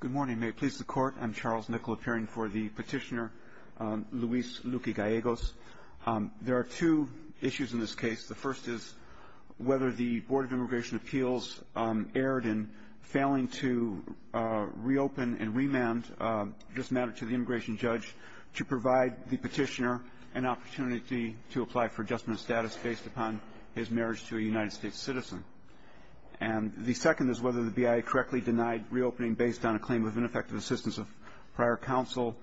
Good morning. May it please the Court, I'm Charles Nickel appearing for the petitioner Luis Luque-Gallegos. There are two issues in this case. The first is whether the Board of Immigration Appeals erred in failing to reopen and remand this matter to the immigration judge to provide the petitioner an opportunity to apply for adjustment of status based upon his marriage to a United States citizen. And the second is whether the BIA correctly denied reopening based on a claim of ineffective assistance of prior counsel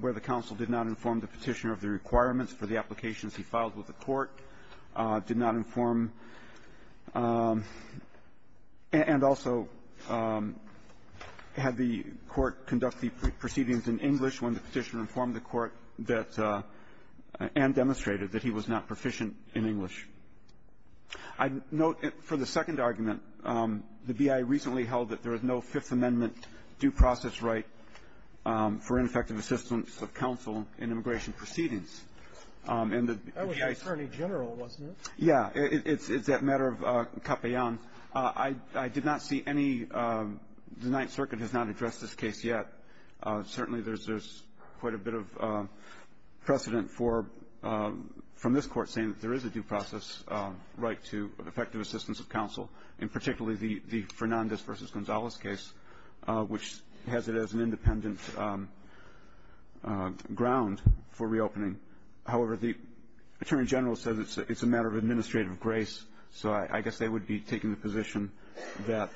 where the counsel did not inform the petitioner of the requirements for the applications he filed with the court, did not inform and also had the court conduct the proceedings in English when the petitioner informed the court that and demonstrated that he was not proficient in English. I note for the second argument, the BIA recently held that there is no Fifth Amendment due process right for ineffective assistance of counsel in immigration proceedings. And the BIA ---- That was attorney general, wasn't it? Yeah. It's that matter of capellan. I did not see any the Ninth Circuit has not addressed this case yet. Certainly there's quite a bit of precedent from this court saying that there is a due process right to effective assistance of counsel and particularly the Fernandez v. Gonzalez case, which has it as an independent ground for reopening. However, the attorney general says it's a matter of administrative grace. So I guess they would be taking the position that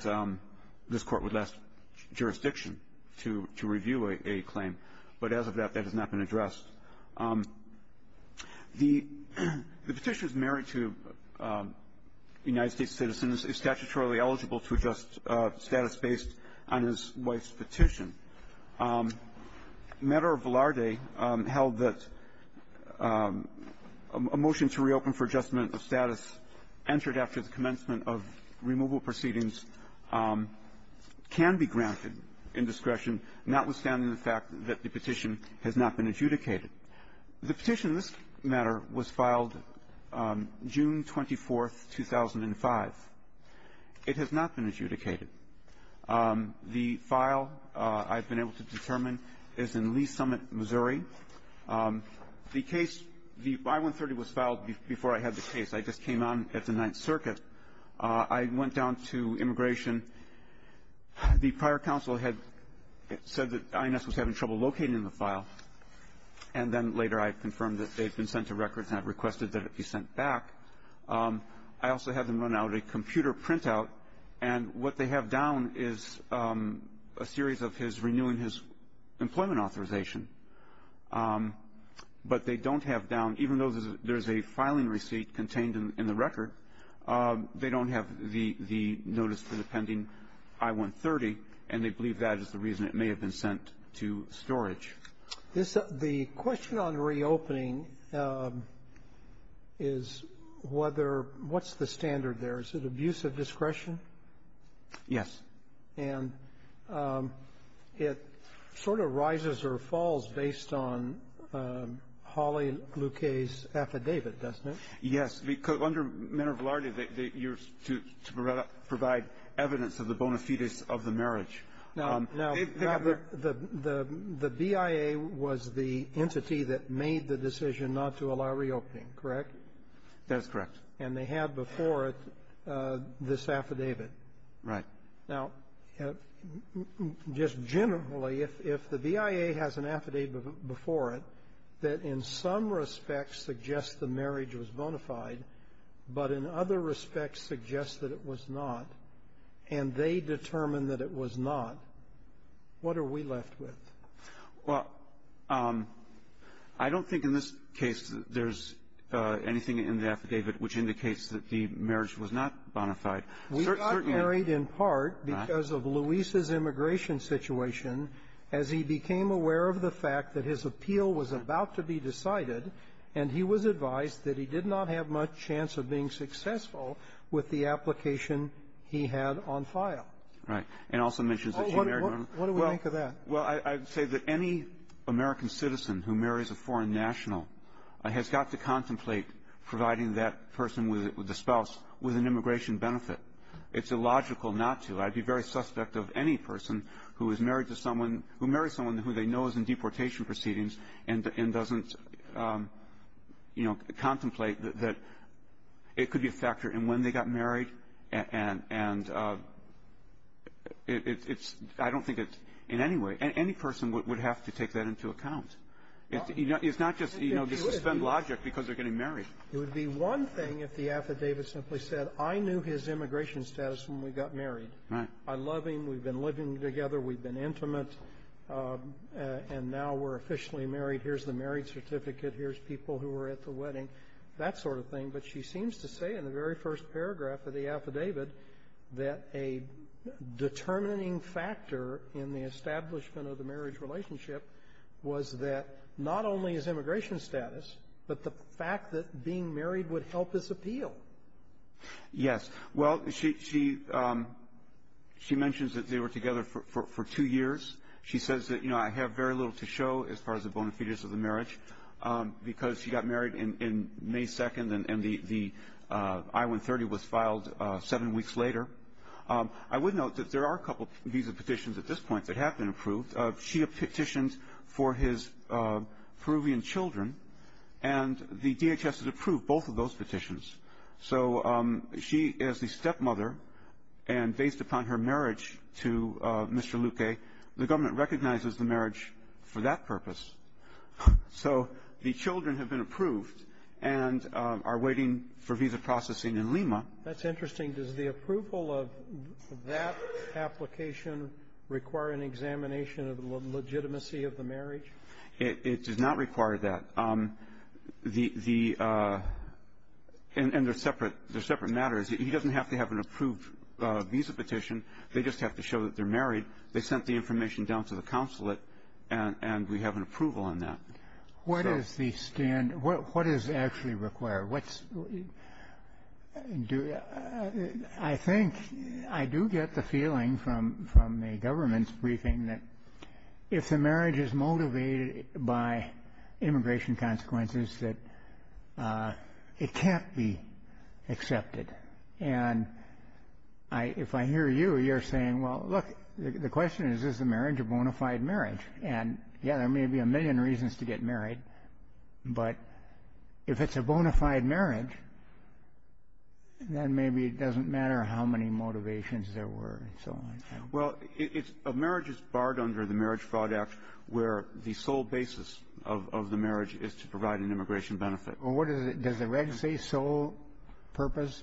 this court would last jurisdiction to review a claim. But as of that, that has not been addressed. The petitioner is married to United States citizens, is statutorily eligible to adjust status based on his wife's petition. The matter of Velarde held that a motion to reopen for adjustment of status entered after the commencement of removal proceedings can be granted in discretion, notwithstanding the fact that the petition has not been adjudicated. The petition in this matter was filed June 24th, 2005. It has not been adjudicated. The file I've been able to determine is in Lee Summit, Missouri. The case, the I-130 was filed before I had the case. I just came on at the Ninth Circuit. I went down to immigration. The prior counsel had said that INS was having trouble locating the file, and then later I confirmed that they had been sent to records and had requested that it be sent back. I also had them run out a computer printout. And what they have down is a series of his renewing his employment authorization. But they don't have down, even though there's a filing receipt contained in the record, they don't have the notice for the pending I-130, and they believe that is the reason it may have been sent to storage. The question on reopening is whether what's the standard there? Is it abuse of discretion? Yes. And it sort of rises or falls based on Hawley-Luquet's affidavit, doesn't it? Yes. Under Manner of Law, you're to provide evidence of the bona fides of the marriage. Now, the BIA was the entity that made the decision not to allow reopening, correct? That's correct. And they had before it this affidavit. Right. Now, just generally, if the BIA has an affidavit before it that in some respects suggests the marriage was bona fide, but in other respects suggests that it was not, and they determined that it was not, what are we left with? Well, I don't think in this case there's anything in the affidavit which indicates that the marriage was not bona fide. We got married in part because of Luis's immigration situation as he became aware of the fact that his appeal was about to be decided, and he was advised that he did Right. And also mentions that she married one of them. What do we think of that? Well, I would say that any American citizen who marries a foreign national has got to contemplate providing that person with a spouse with an immigration benefit. It's illogical not to. I'd be very suspect of any person who is married to someone who marries someone who they know is in deportation proceedings and doesn't, you know, contemplate that it could be a factor in when they got married, and it's, I don't think it's in any way, any person would have to take that into account. It's not just, you know, suspend logic because they're getting married. It would be one thing if the affidavit simply said, I knew his immigration status when we got married. Right. I love him. We've been living together. We've been intimate, and now we're officially married. Here's the marriage certificate. Here's people who were at the wedding. That sort of thing. But she seems to say in the very first paragraph of the affidavit that a determining factor in the establishment of the marriage relationship was that not only his immigration status, but the fact that being married would help his appeal. Yes. Well, she mentions that they were together for two years. She says that, you know, I have very little to show as far as the bona fides of the I-130 was filed seven weeks later. I would note that there are a couple of visa petitions at this point that have been approved. She petitioned for his Peruvian children, and the DHS has approved both of those petitions. So she is the stepmother, and based upon her marriage to Mr. Luque, the government recognizes the marriage for that purpose. So the children have been approved and are waiting for visa processing in Lima. That's interesting. Does the approval of that application require an examination of the legitimacy of the marriage? It does not require that. And they're separate matters. He doesn't have to have an approved visa petition. They just have to show that they're married. They sent the information down to the consulate, and we have an approval on that. What is the standard? What does it actually require? I think I do get the feeling from the government's briefing that if the marriage is motivated by immigration consequences, that it can't be accepted. And if I hear you, you're saying, well, look, the question is, is the marriage a bona fide marriage? And, yeah, there may be a million reasons to get married, but if it's a bona fide marriage, then maybe it doesn't matter how many motivations there were and so on. Well, a marriage is barred under the Marriage Fraud Act, where the sole basis of the marriage is to provide an immigration benefit. Does the reg say sole purpose?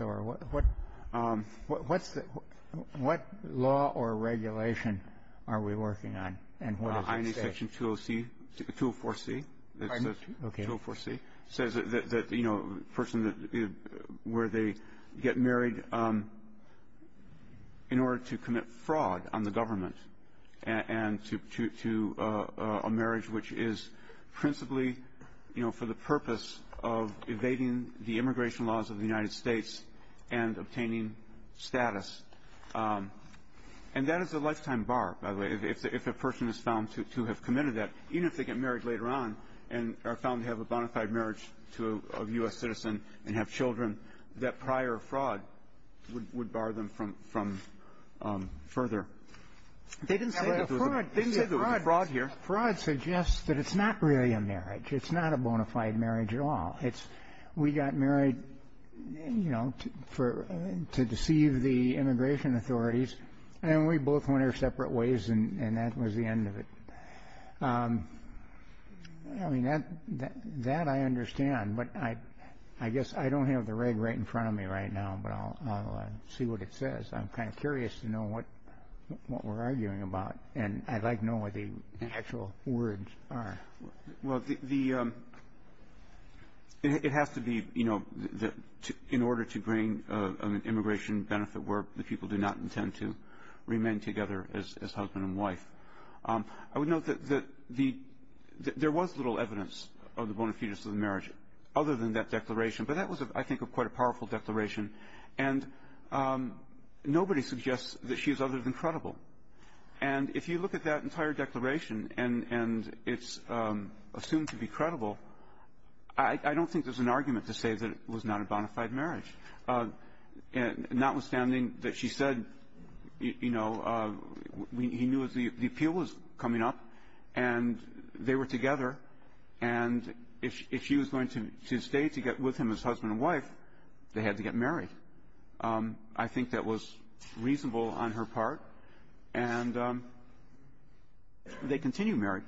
What law or regulation are we working on, and what does it say? INA Section 204C says that, you know, a person where they get married in order to commit fraud on the government and to a marriage which is principally, you know, for the purpose of evading the immigration laws of the United States and obtaining status. And that is a lifetime bar, by the way, if a person is found to have committed that, even if they get married later on and are found to have a bona fide marriage to a U.S. citizen and have children, that prior fraud would bar them from further. They didn't say there was a fraud here. Fraud suggests that it's not really a marriage. It's not a bona fide marriage at all. We got married, you know, to deceive the immigration authorities, and we both went our separate ways, and that was the end of it. I mean, that I understand, but I guess I don't have the reg right in front of me right now, but I'll see what it says. I'm kind of curious to know what we're arguing about, and I'd like to know what the actual words are. Well, it has to be, you know, in order to bring an immigration benefit where the people do not intend to remain together as husband and wife. I would note that there was little evidence of the bona fides of the marriage other than that declaration, but that was, I think, quite a powerful declaration, and nobody suggests that she is other than credible. And if you look at that entire declaration and it's assumed to be credible, I don't think there's an argument to say that it was not a bona fide marriage, notwithstanding that she said, you know, he knew the appeal was coming up, and they were together, and if she was going to stay with him as husband and wife, they had to get married. I think that was reasonable on her part, and they continued married.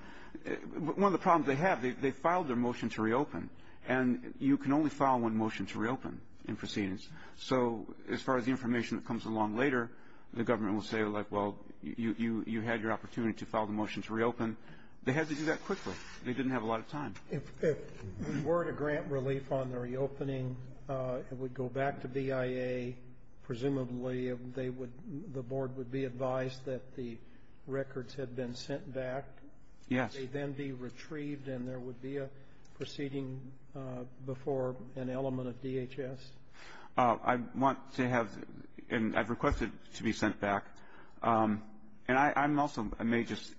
One of the problems they have, they filed their motion to reopen, and you can only file one motion to reopen in proceedings. So as far as the information that comes along later, the government will say, like, well, you had your opportunity to file the motion to reopen. They had to do that quickly. They didn't have a lot of time. If we were to grant relief on the reopening, it would go back to BIA. Presumably the board would be advised that the records had been sent back. Yes. Would they then be retrieved and there would be a proceeding before an element of DHS? I want to have and I've requested to be sent back. And I'm also may just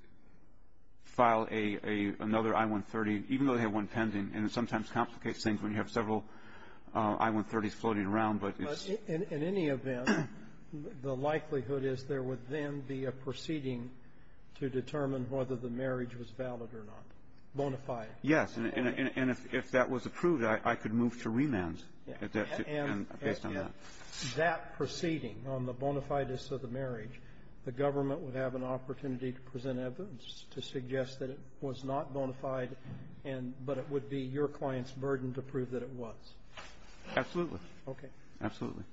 file another I-130, even though they have one pending, and it sometimes complicates things when you have several I-130s floating around. But in any event, the likelihood is there would then be a proceeding to determine whether the marriage was valid or not, bona fide. Yes. And if that was approved, I could move to remand based on that. And that proceeding on the bona fides of the marriage, the government would have an opportunity to present evidence to suggest that it was not bona fide, but it would be your client's burden to prove that it was. Absolutely. Okay. Absolutely.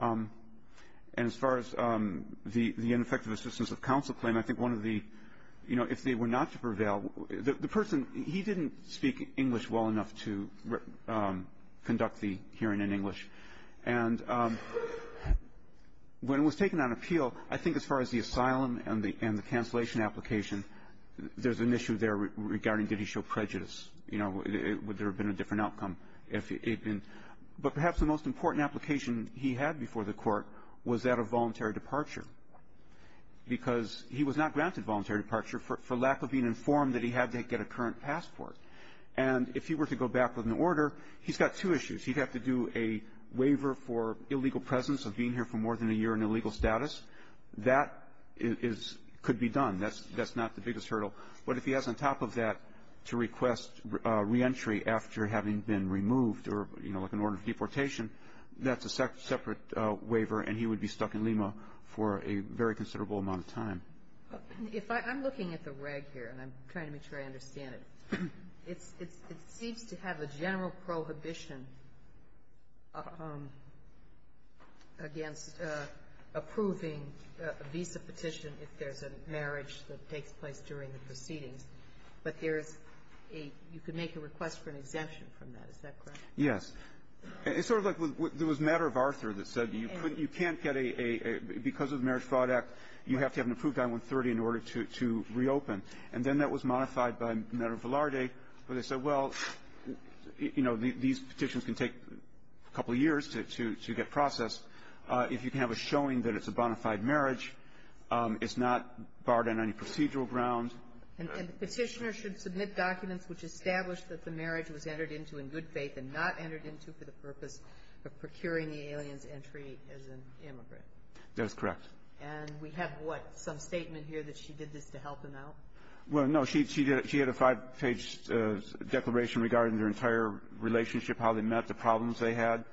And as far as the ineffective assistance of counsel claim, I think one of the, you know, if they were not to prevail, the person, he didn't speak English well enough to conduct the hearing in English. And when it was taken on appeal, I think as far as the asylum and the cancellation application, there's an issue there regarding did he show prejudice, you know, would there have been a different outcome if he had been. But perhaps the most important application he had before the court was that of voluntary departure because he was not granted voluntary departure for lack of being informed that he had to get a current passport. And if he were to go back with an order, he's got two issues. He'd have to do a waiver for illegal presence of being here for more than a year in illegal status. That could be done. That's not the biggest hurdle. But if he has on top of that to request reentry after having been removed or, you know, stuck in order of deportation, that's a separate waiver. And he would be stuck in Lima for a very considerable amount of time. If I'm looking at the reg here, and I'm trying to make sure I understand it, it seems to have a general prohibition against approving a visa petition if there's a marriage that takes place during the proceedings. But there's a you can make a request for an exemption from that. Is that correct? Yes. It's sort of like there was a matter of Arthur that said you can't get a – because of the Marriage Fraud Act, you have to have an approved I-130 in order to reopen. And then that was modified by a matter of Velarde where they said, well, you know, these petitions can take a couple of years to get processed. If you can have a showing that it's a bona fide marriage, it's not barred on any procedural grounds. And the Petitioner should submit documents which establish that the marriage was entered into in good faith and not entered into for the purpose of procuring the alien's entry as an immigrant. That is correct. And we have what? Some statement here that she did this to help him out? Well, no. She had a five-page declaration regarding their entire relationship, how they met, the problems they had,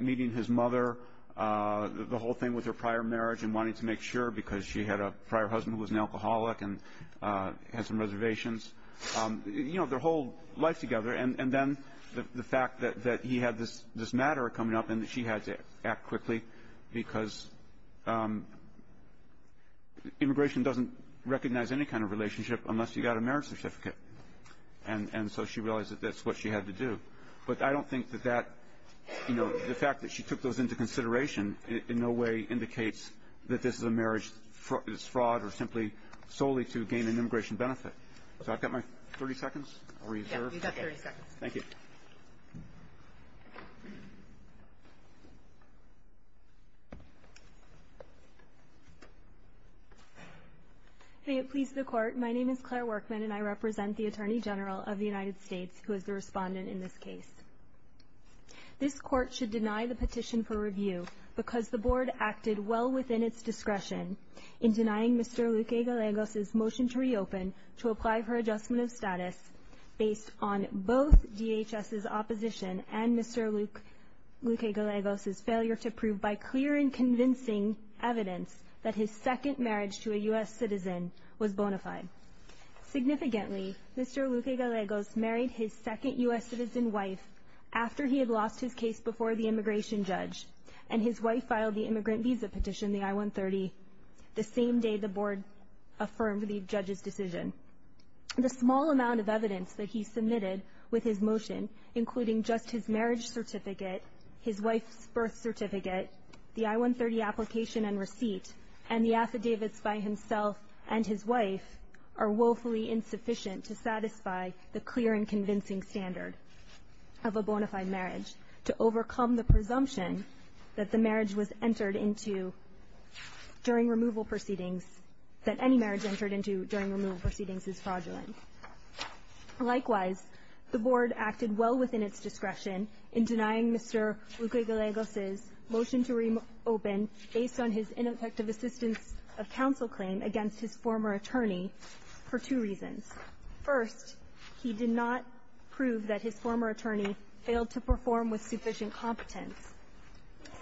meeting his mother, the whole thing with her prior marriage and wanting to make sure because she had a prior husband who was an alcoholic and had some reservations. You know, their whole life together. And then the fact that he had this matter coming up and that she had to act quickly because immigration doesn't recognize any kind of relationship unless you got a marriage certificate. And so she realized that that's what she had to do. But I don't think that that, you know, the fact that she took those into consideration in no way indicates that this is a marriage that's fraud or simply solely to gain an immigration benefit. So I've got my 30 seconds reserved. Yes, you've got 30 seconds. Thank you. May it please the Court, my name is Claire Workman and I represent the Attorney General of the United States who is the respondent in this case. This Court should deny the petition for review because the Board acted well within its discretion in denying Mr. Luque-Galegos' motion to reopen to apply for adjustment of status based on both DHS' opposition and Mr. Luque-Galegos' failure to prove by clear and convincing evidence that his second marriage to a U.S. citizen was bona fide. Significantly, Mr. Luque-Galegos married his second U.S. citizen wife after he had lost his case before the immigration judge and his wife filed the immigrant visa petition, the I-130, the same day the Board affirmed the judge's decision. The small amount of evidence that he submitted with his motion, including just his marriage certificate, his wife's birth certificate, the I-130 application and receipt, and the affidavits by himself and his wife are woefully insufficient to satisfy the clear and convincing standard of a bona fide marriage, to overcome the presumption that the marriage was entered into during removal proceedings, that any marriage entered into during removal proceedings is fraudulent. Likewise, the Board acted well within its discretion in denying Mr. Luque-Galegos' motion to reopen based on his ineffective assistance of counsel claim against his former attorney for two reasons. First, he did not prove that his former attorney failed to perform with sufficient competence.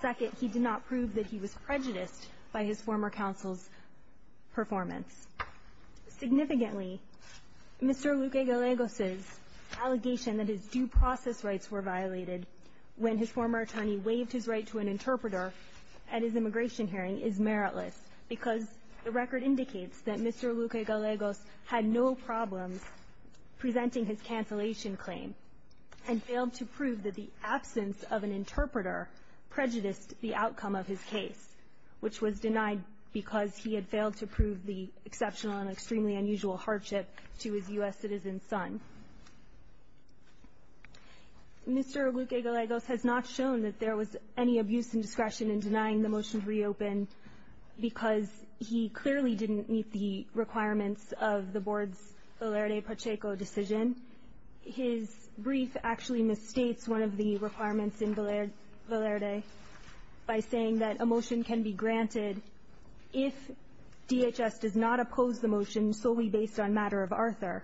Second, he did not prove that he was prejudiced by his former counsel's performance. Significantly, Mr. Luque-Galegos' allegation that his due process rights were violated when his former attorney waived his right to an interpreter at his immigration hearing is meritless because the record indicates that Mr. Luque-Galegos had no problems presenting his cancellation claim and failed to prove that the absence of an interpreter prejudiced the outcome of his case, which was denied because he had failed to prove the exceptional and extremely unusual hardship to his U.S. citizen son. Mr. Luque-Galegos has not shown that there was any abuse in discretion in denying the motion because he clearly didn't meet the requirements of the Board's Valerde-Pacheco decision. His brief actually misstates one of the requirements in Valerde by saying that a motion can be granted if DHS does not oppose the motion solely based on matter of Arthur,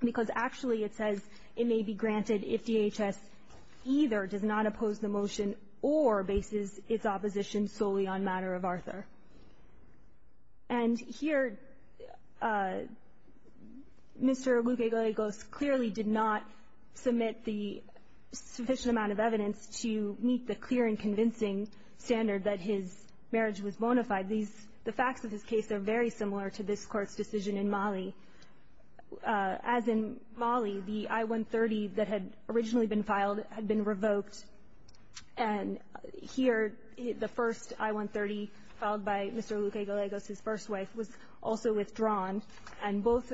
because actually it says it may be granted if DHS either does not oppose the motion or bases its opposition solely on matter of Arthur. And here Mr. Luque-Galegos clearly did not submit the sufficient amount of evidence to meet the clear and convincing standard that his marriage was bona fide. The facts of his case are very similar to this Court's decision in Mali. As in Mali, the I-130 that had originally been filed had been revoked, and here the first I-130 filed by Mr. Luque-Galegos, his first wife, was also withdrawn, and both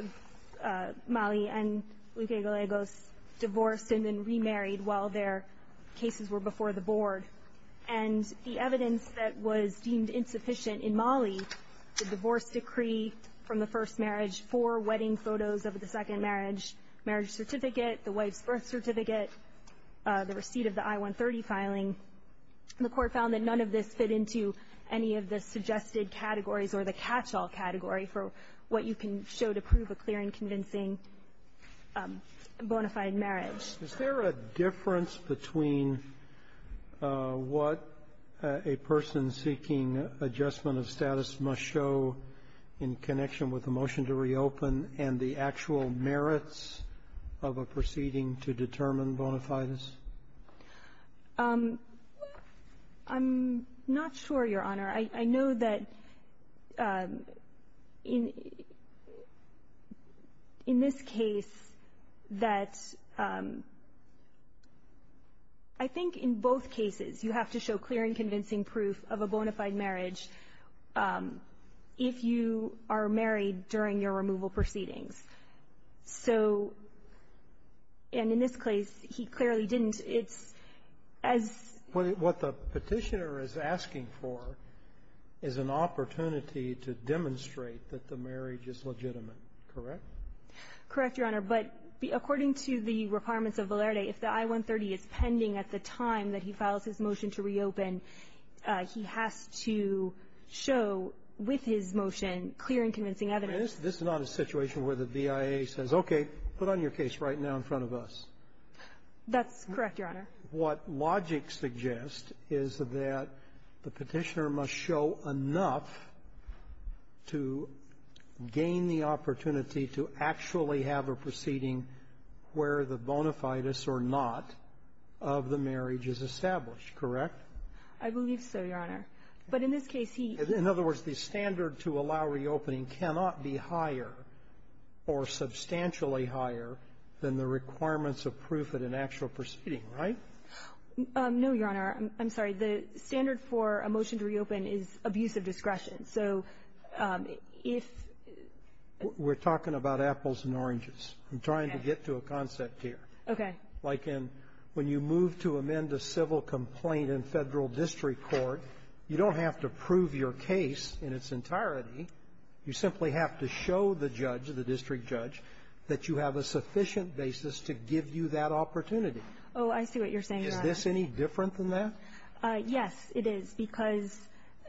Mali and Luque-Galegos divorced and then remarried while their cases were before the Board. And the evidence that was deemed insufficient in Mali, the divorce decree from the first marriage, four wedding photos of the second marriage, marriage certificate, the wife's birth certificate, the receipt of the I-130 filing, the Court found that none of this fit into any of the suggested categories or the catch-all category for what you can show to prove a clear and convincing bona fide marriage. Is there a difference between what a person seeking adjustment of status must show in connection with the motion to reopen and the actual merits of a proceeding to determine bona fides? I'm not sure, Your Honor. I know that in this case that I think in both cases you have to show clear and convincing marriage if you are married during your removal proceedings. So, and in this case, he clearly didn't. It's as ---- What the Petitioner is asking for is an opportunity to demonstrate that the marriage is legitimate, correct? Correct, Your Honor. But according to the requirements of Valerde, if the I-130 is pending at the time that he files his motion to reopen, he has to show, with his motion, clear and convincing evidence. This is not a situation where the BIA says, okay, put on your case right now in front of us. That's correct, Your Honor. What logic suggests is that the Petitioner must show enough to gain the opportunity to actually have a proceeding where the bona fides or not of the marriage is established, correct? I believe so, Your Honor. But in this case, he ---- In other words, the standard to allow reopening cannot be higher or substantially higher than the requirements of proof at an actual proceeding, right? No, Your Honor. I'm sorry. The standard for a motion to reopen is abuse of discretion. So if ---- We're talking about apples and oranges. Okay. I'm trying to get to a concept here. Okay. Like in when you move to amend a civil complaint in Federal district court, you don't have to prove your case in its entirety. You simply have to show the judge, the district judge, that you have a sufficient basis to give you that opportunity. Oh, I see what you're saying, Your Honor. Is this any different than that? Yes, it is, because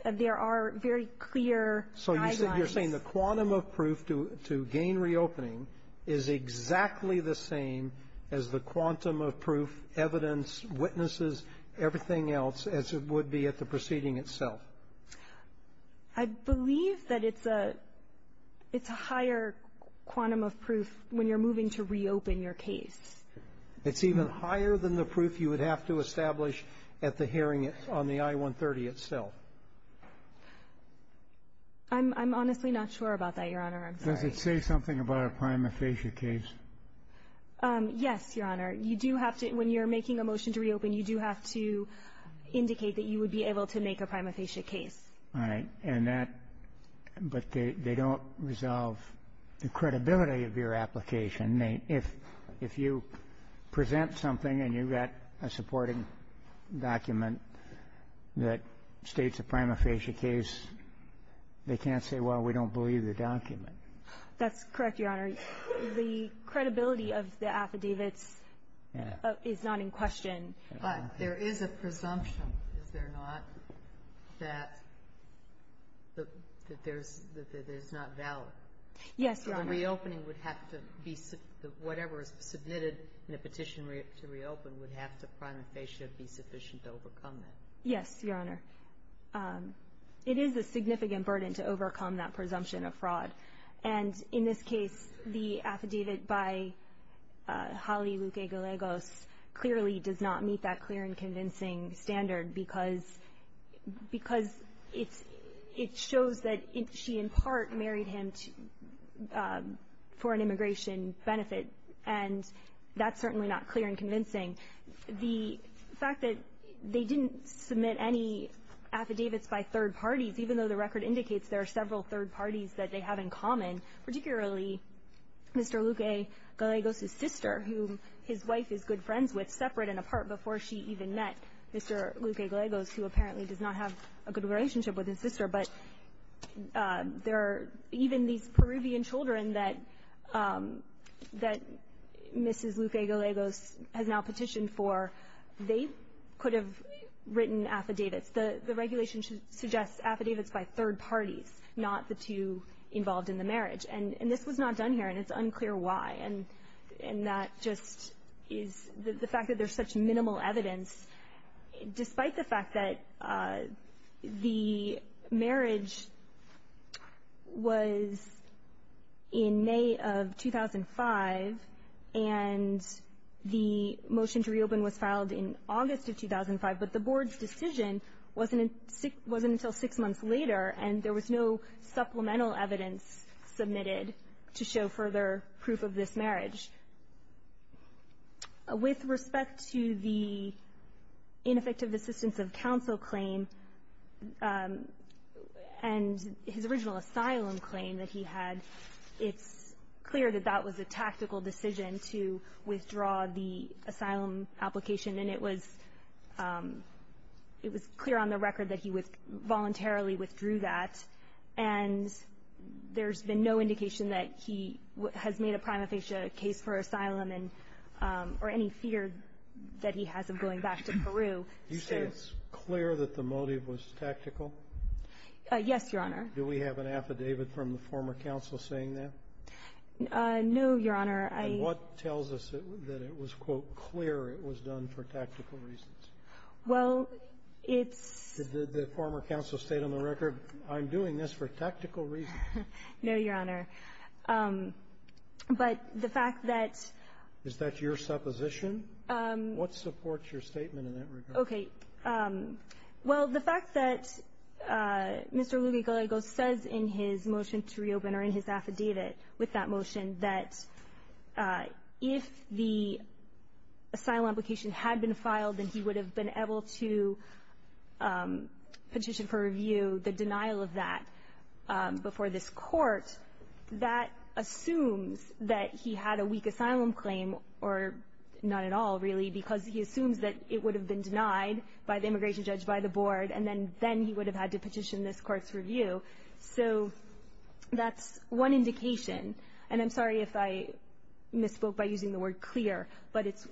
there are very clear guidelines. So you're saying the quantum of proof to gain reopening is exactly the same as the quantum of proof, evidence, witnesses, everything else, as it would be at the proceeding itself? I believe that it's a higher quantum of proof when you're moving to reopen your case. It's even higher than the proof you would have to establish at the hearing on the I-130 itself. I'm honestly not sure about that, Your Honor. I'm sorry. Does it say something about a prima facie case? Yes, Your Honor. You do have to ---- when you're making a motion to reopen, you do have to indicate that you would be able to make a prima facie case. All right. And that ---- but they don't resolve the credibility of your application. And if you present something and you get a supporting document that states a prima facie case, they can't say, well, we don't believe the document. That's correct, Your Honor. The credibility of the affidavits is not in question. But there is a presumption, is there not, that there's ---- that it is not valid? Yes, Your Honor. So reopening would have to be ---- whatever is submitted in the petition to reopen would have to prima facie be sufficient to overcome that. Yes, Your Honor. It is a significant burden to overcome that presumption of fraud. And in this case, the affidavit by Holly Luque-Guelegos clearly does not meet that clear and convincing standard because it's ---- it shows that she in part married him to ---- for an immigration benefit. And that's certainly not clear and convincing. The fact that they didn't submit any affidavits by third parties, even though the record indicates there are several third parties that they have in common, particularly Mr. Luque-Guelegos's sister, who his wife is good friends with, separate and apart before she even met Mr. Luque-Guelegos, who apparently does not have a good relationship with Mr. Luque-Guelegos. Even these Peruvian children that Mrs. Luque-Guelegos has now petitioned for, they could have written affidavits. The regulation suggests affidavits by third parties, not the two involved in the marriage. And this was not done here, and it's unclear why. And that just is the fact that there's such minimal evidence. Despite the fact that the marriage was in May of 2005 and the motion to reopen was filed in August of 2005, but the board's decision wasn't until six months later and there was no supplemental evidence submitted to show further proof of this marriage. With respect to the ineffective assistance of counsel claim and his original asylum claim that he had, it's clear that that was a tactical decision to withdraw the asylum application, and it was clear on the record that he voluntarily withdrew that. And there's been no indication that he has made a prima facie case for asylum or any fear that he has of going back to Peru. Do you say it's clear that the motive was tactical? Yes, Your Honor. Do we have an affidavit from the former counsel saying that? No, Your Honor. And what tells us that it was, quote, clear it was done for tactical reasons? Well, it's — Did the former counsel state on the record, I'm doing this for tactical reasons? No, Your Honor. But the fact that — Is that your supposition? What supports your statement in that regard? Okay. Well, the fact that Mr. Lugo Gallego says in his motion to reopen or in his affidavit with that motion that if the asylum application had been filed, then he would have been able to petition for review the denial of that before this Court, that assumes that he had a weak asylum claim, or not at all, really, because he assumes that it would have been denied by the immigration judge, by the board, and then he would have had to petition this Court's review. So that's one indication. And I'm sorry if I misspoke by using the word clear, but it's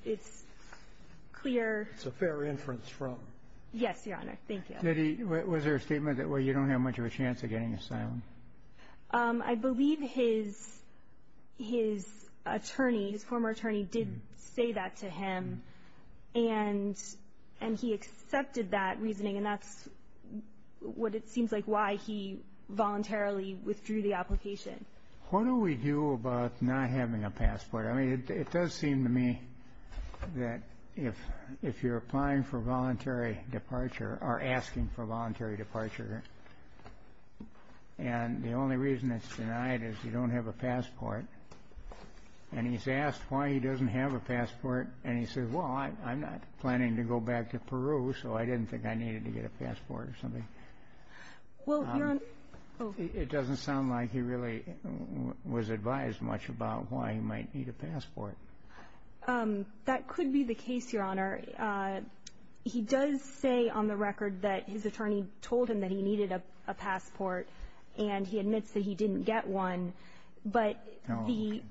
clear. It's a fair inference from — Yes, Your Honor. Thank you. Did he — was there a statement that, well, you don't have much of a chance of getting asylum? I believe his attorney, his former attorney, did say that to him, and he accepted that reasoning, and that's what it seems like why he voluntarily withdrew the application. What do we do about not having a passport? I mean, it does seem to me that if you're applying for voluntary departure or asking for voluntary departure, and the only reason it's denied is you don't have a passport, and he's asked why he doesn't have a passport, and he says, well, I'm not planning to go back to Peru, so I didn't think I needed to get a passport or something. Well, Your Honor — It doesn't sound like he really was advised much about why he might need a passport. That could be the case, Your Honor. He does say on the record that his attorney told him that he needed a passport, and he admits that he didn't get one, but the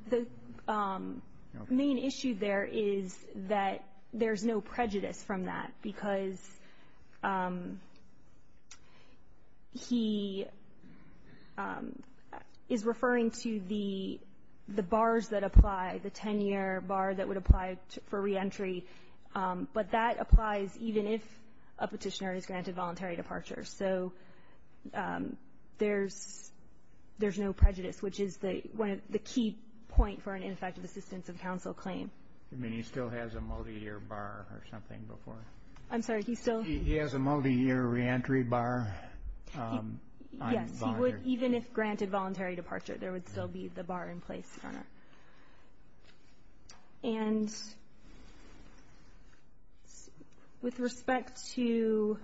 main issue there is that there's no prejudice from that because he is referring to the bars that apply, the 10-year bar that would apply for reentry, but that applies even if a petitioner is granted voluntary departure. So there's no prejudice, which is the key point for an ineffective assistance of counsel claim. You mean he still has a multi-year bar or something before? I'm sorry, he still — He has a multi-year reentry bar? Yes, even if granted voluntary departure, there would still be the bar in place, Your Honor. And with respect to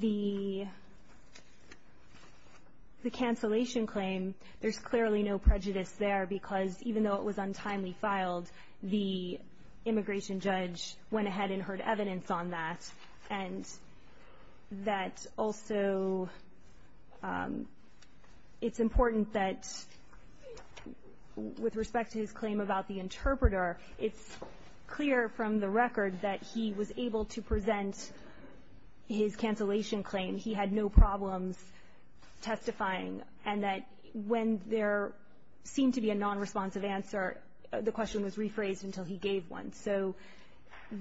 the cancellation claim, there's clearly no prejudice there because even though it was untimely filed, the immigration judge went ahead and heard evidence on that, and that also it's important that with respect to his claim about the interpreter, it's clear from the record that he was able to present his cancellation claim. He had no problems testifying, and that when there seemed to be a nonresponsive answer, the question was rephrased until he gave one. So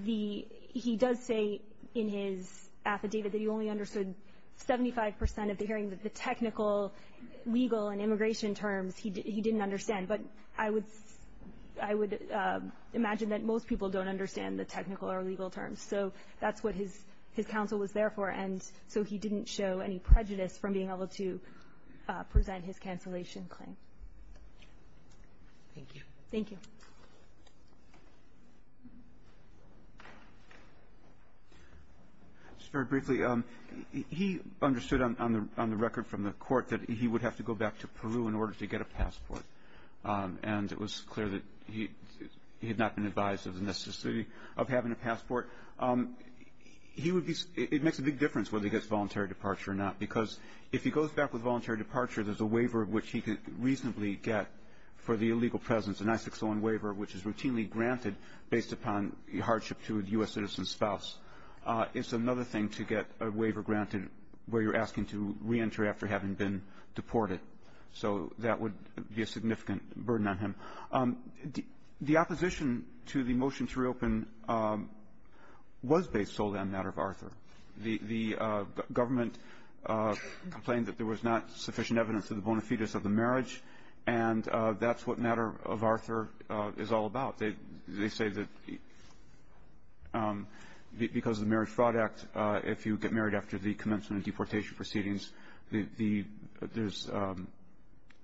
he does say in his affidavit that he only understood 75 percent of the hearing, the technical, legal, and immigration terms he didn't understand, but I would imagine that most people don't understand the technical or legal terms. So that's what his counsel was there for, and so he didn't show any prejudice from being able to present his cancellation claim. Thank you. Thank you. Just very briefly, he understood on the record from the court that he would have to go back to Peru in order to get a passport, and it was clear that he had not been advised of the necessity of having a passport. It makes a big difference whether he gets voluntary departure or not because if he goes back with voluntary departure, there's a waiver which he can reasonably get for the illegal presence, an I-601 waiver, which is routinely granted based upon hardship to a U.S. citizen's spouse. It's another thing to get a waiver granted where you're asking to reenter after having been deported, so that would be a significant burden on him. The opposition to the motion to reopen was based solely on the matter of Arthur. The government complained that there was not sufficient evidence of the bona fides of the marriage, and that's what matter of Arthur is all about. They say that because of the Marriage Fraud Act, if you get married after the commencement of deportation proceedings, there's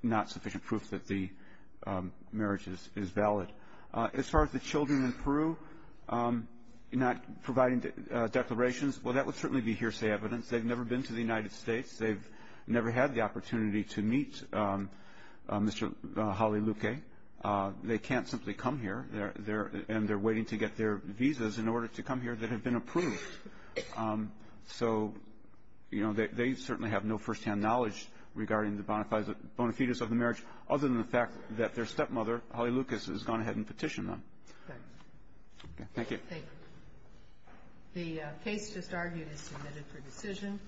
not sufficient proof that the marriage is valid. As far as the children in Peru not providing declarations, well, that would certainly be hearsay evidence. They've never been to the United States. They've never had the opportunity to meet Mr. Jaliluque. They can't simply come here, and they're waiting to get their visas in order to come here that have been approved. So, you know, they certainly have no firsthand knowledge regarding the bona fides of the marriage other than the fact that their stepmother, Jaliluque, has gone ahead and petitioned them. Okay. Thank you. Thank you. The case just argued is submitted for decision.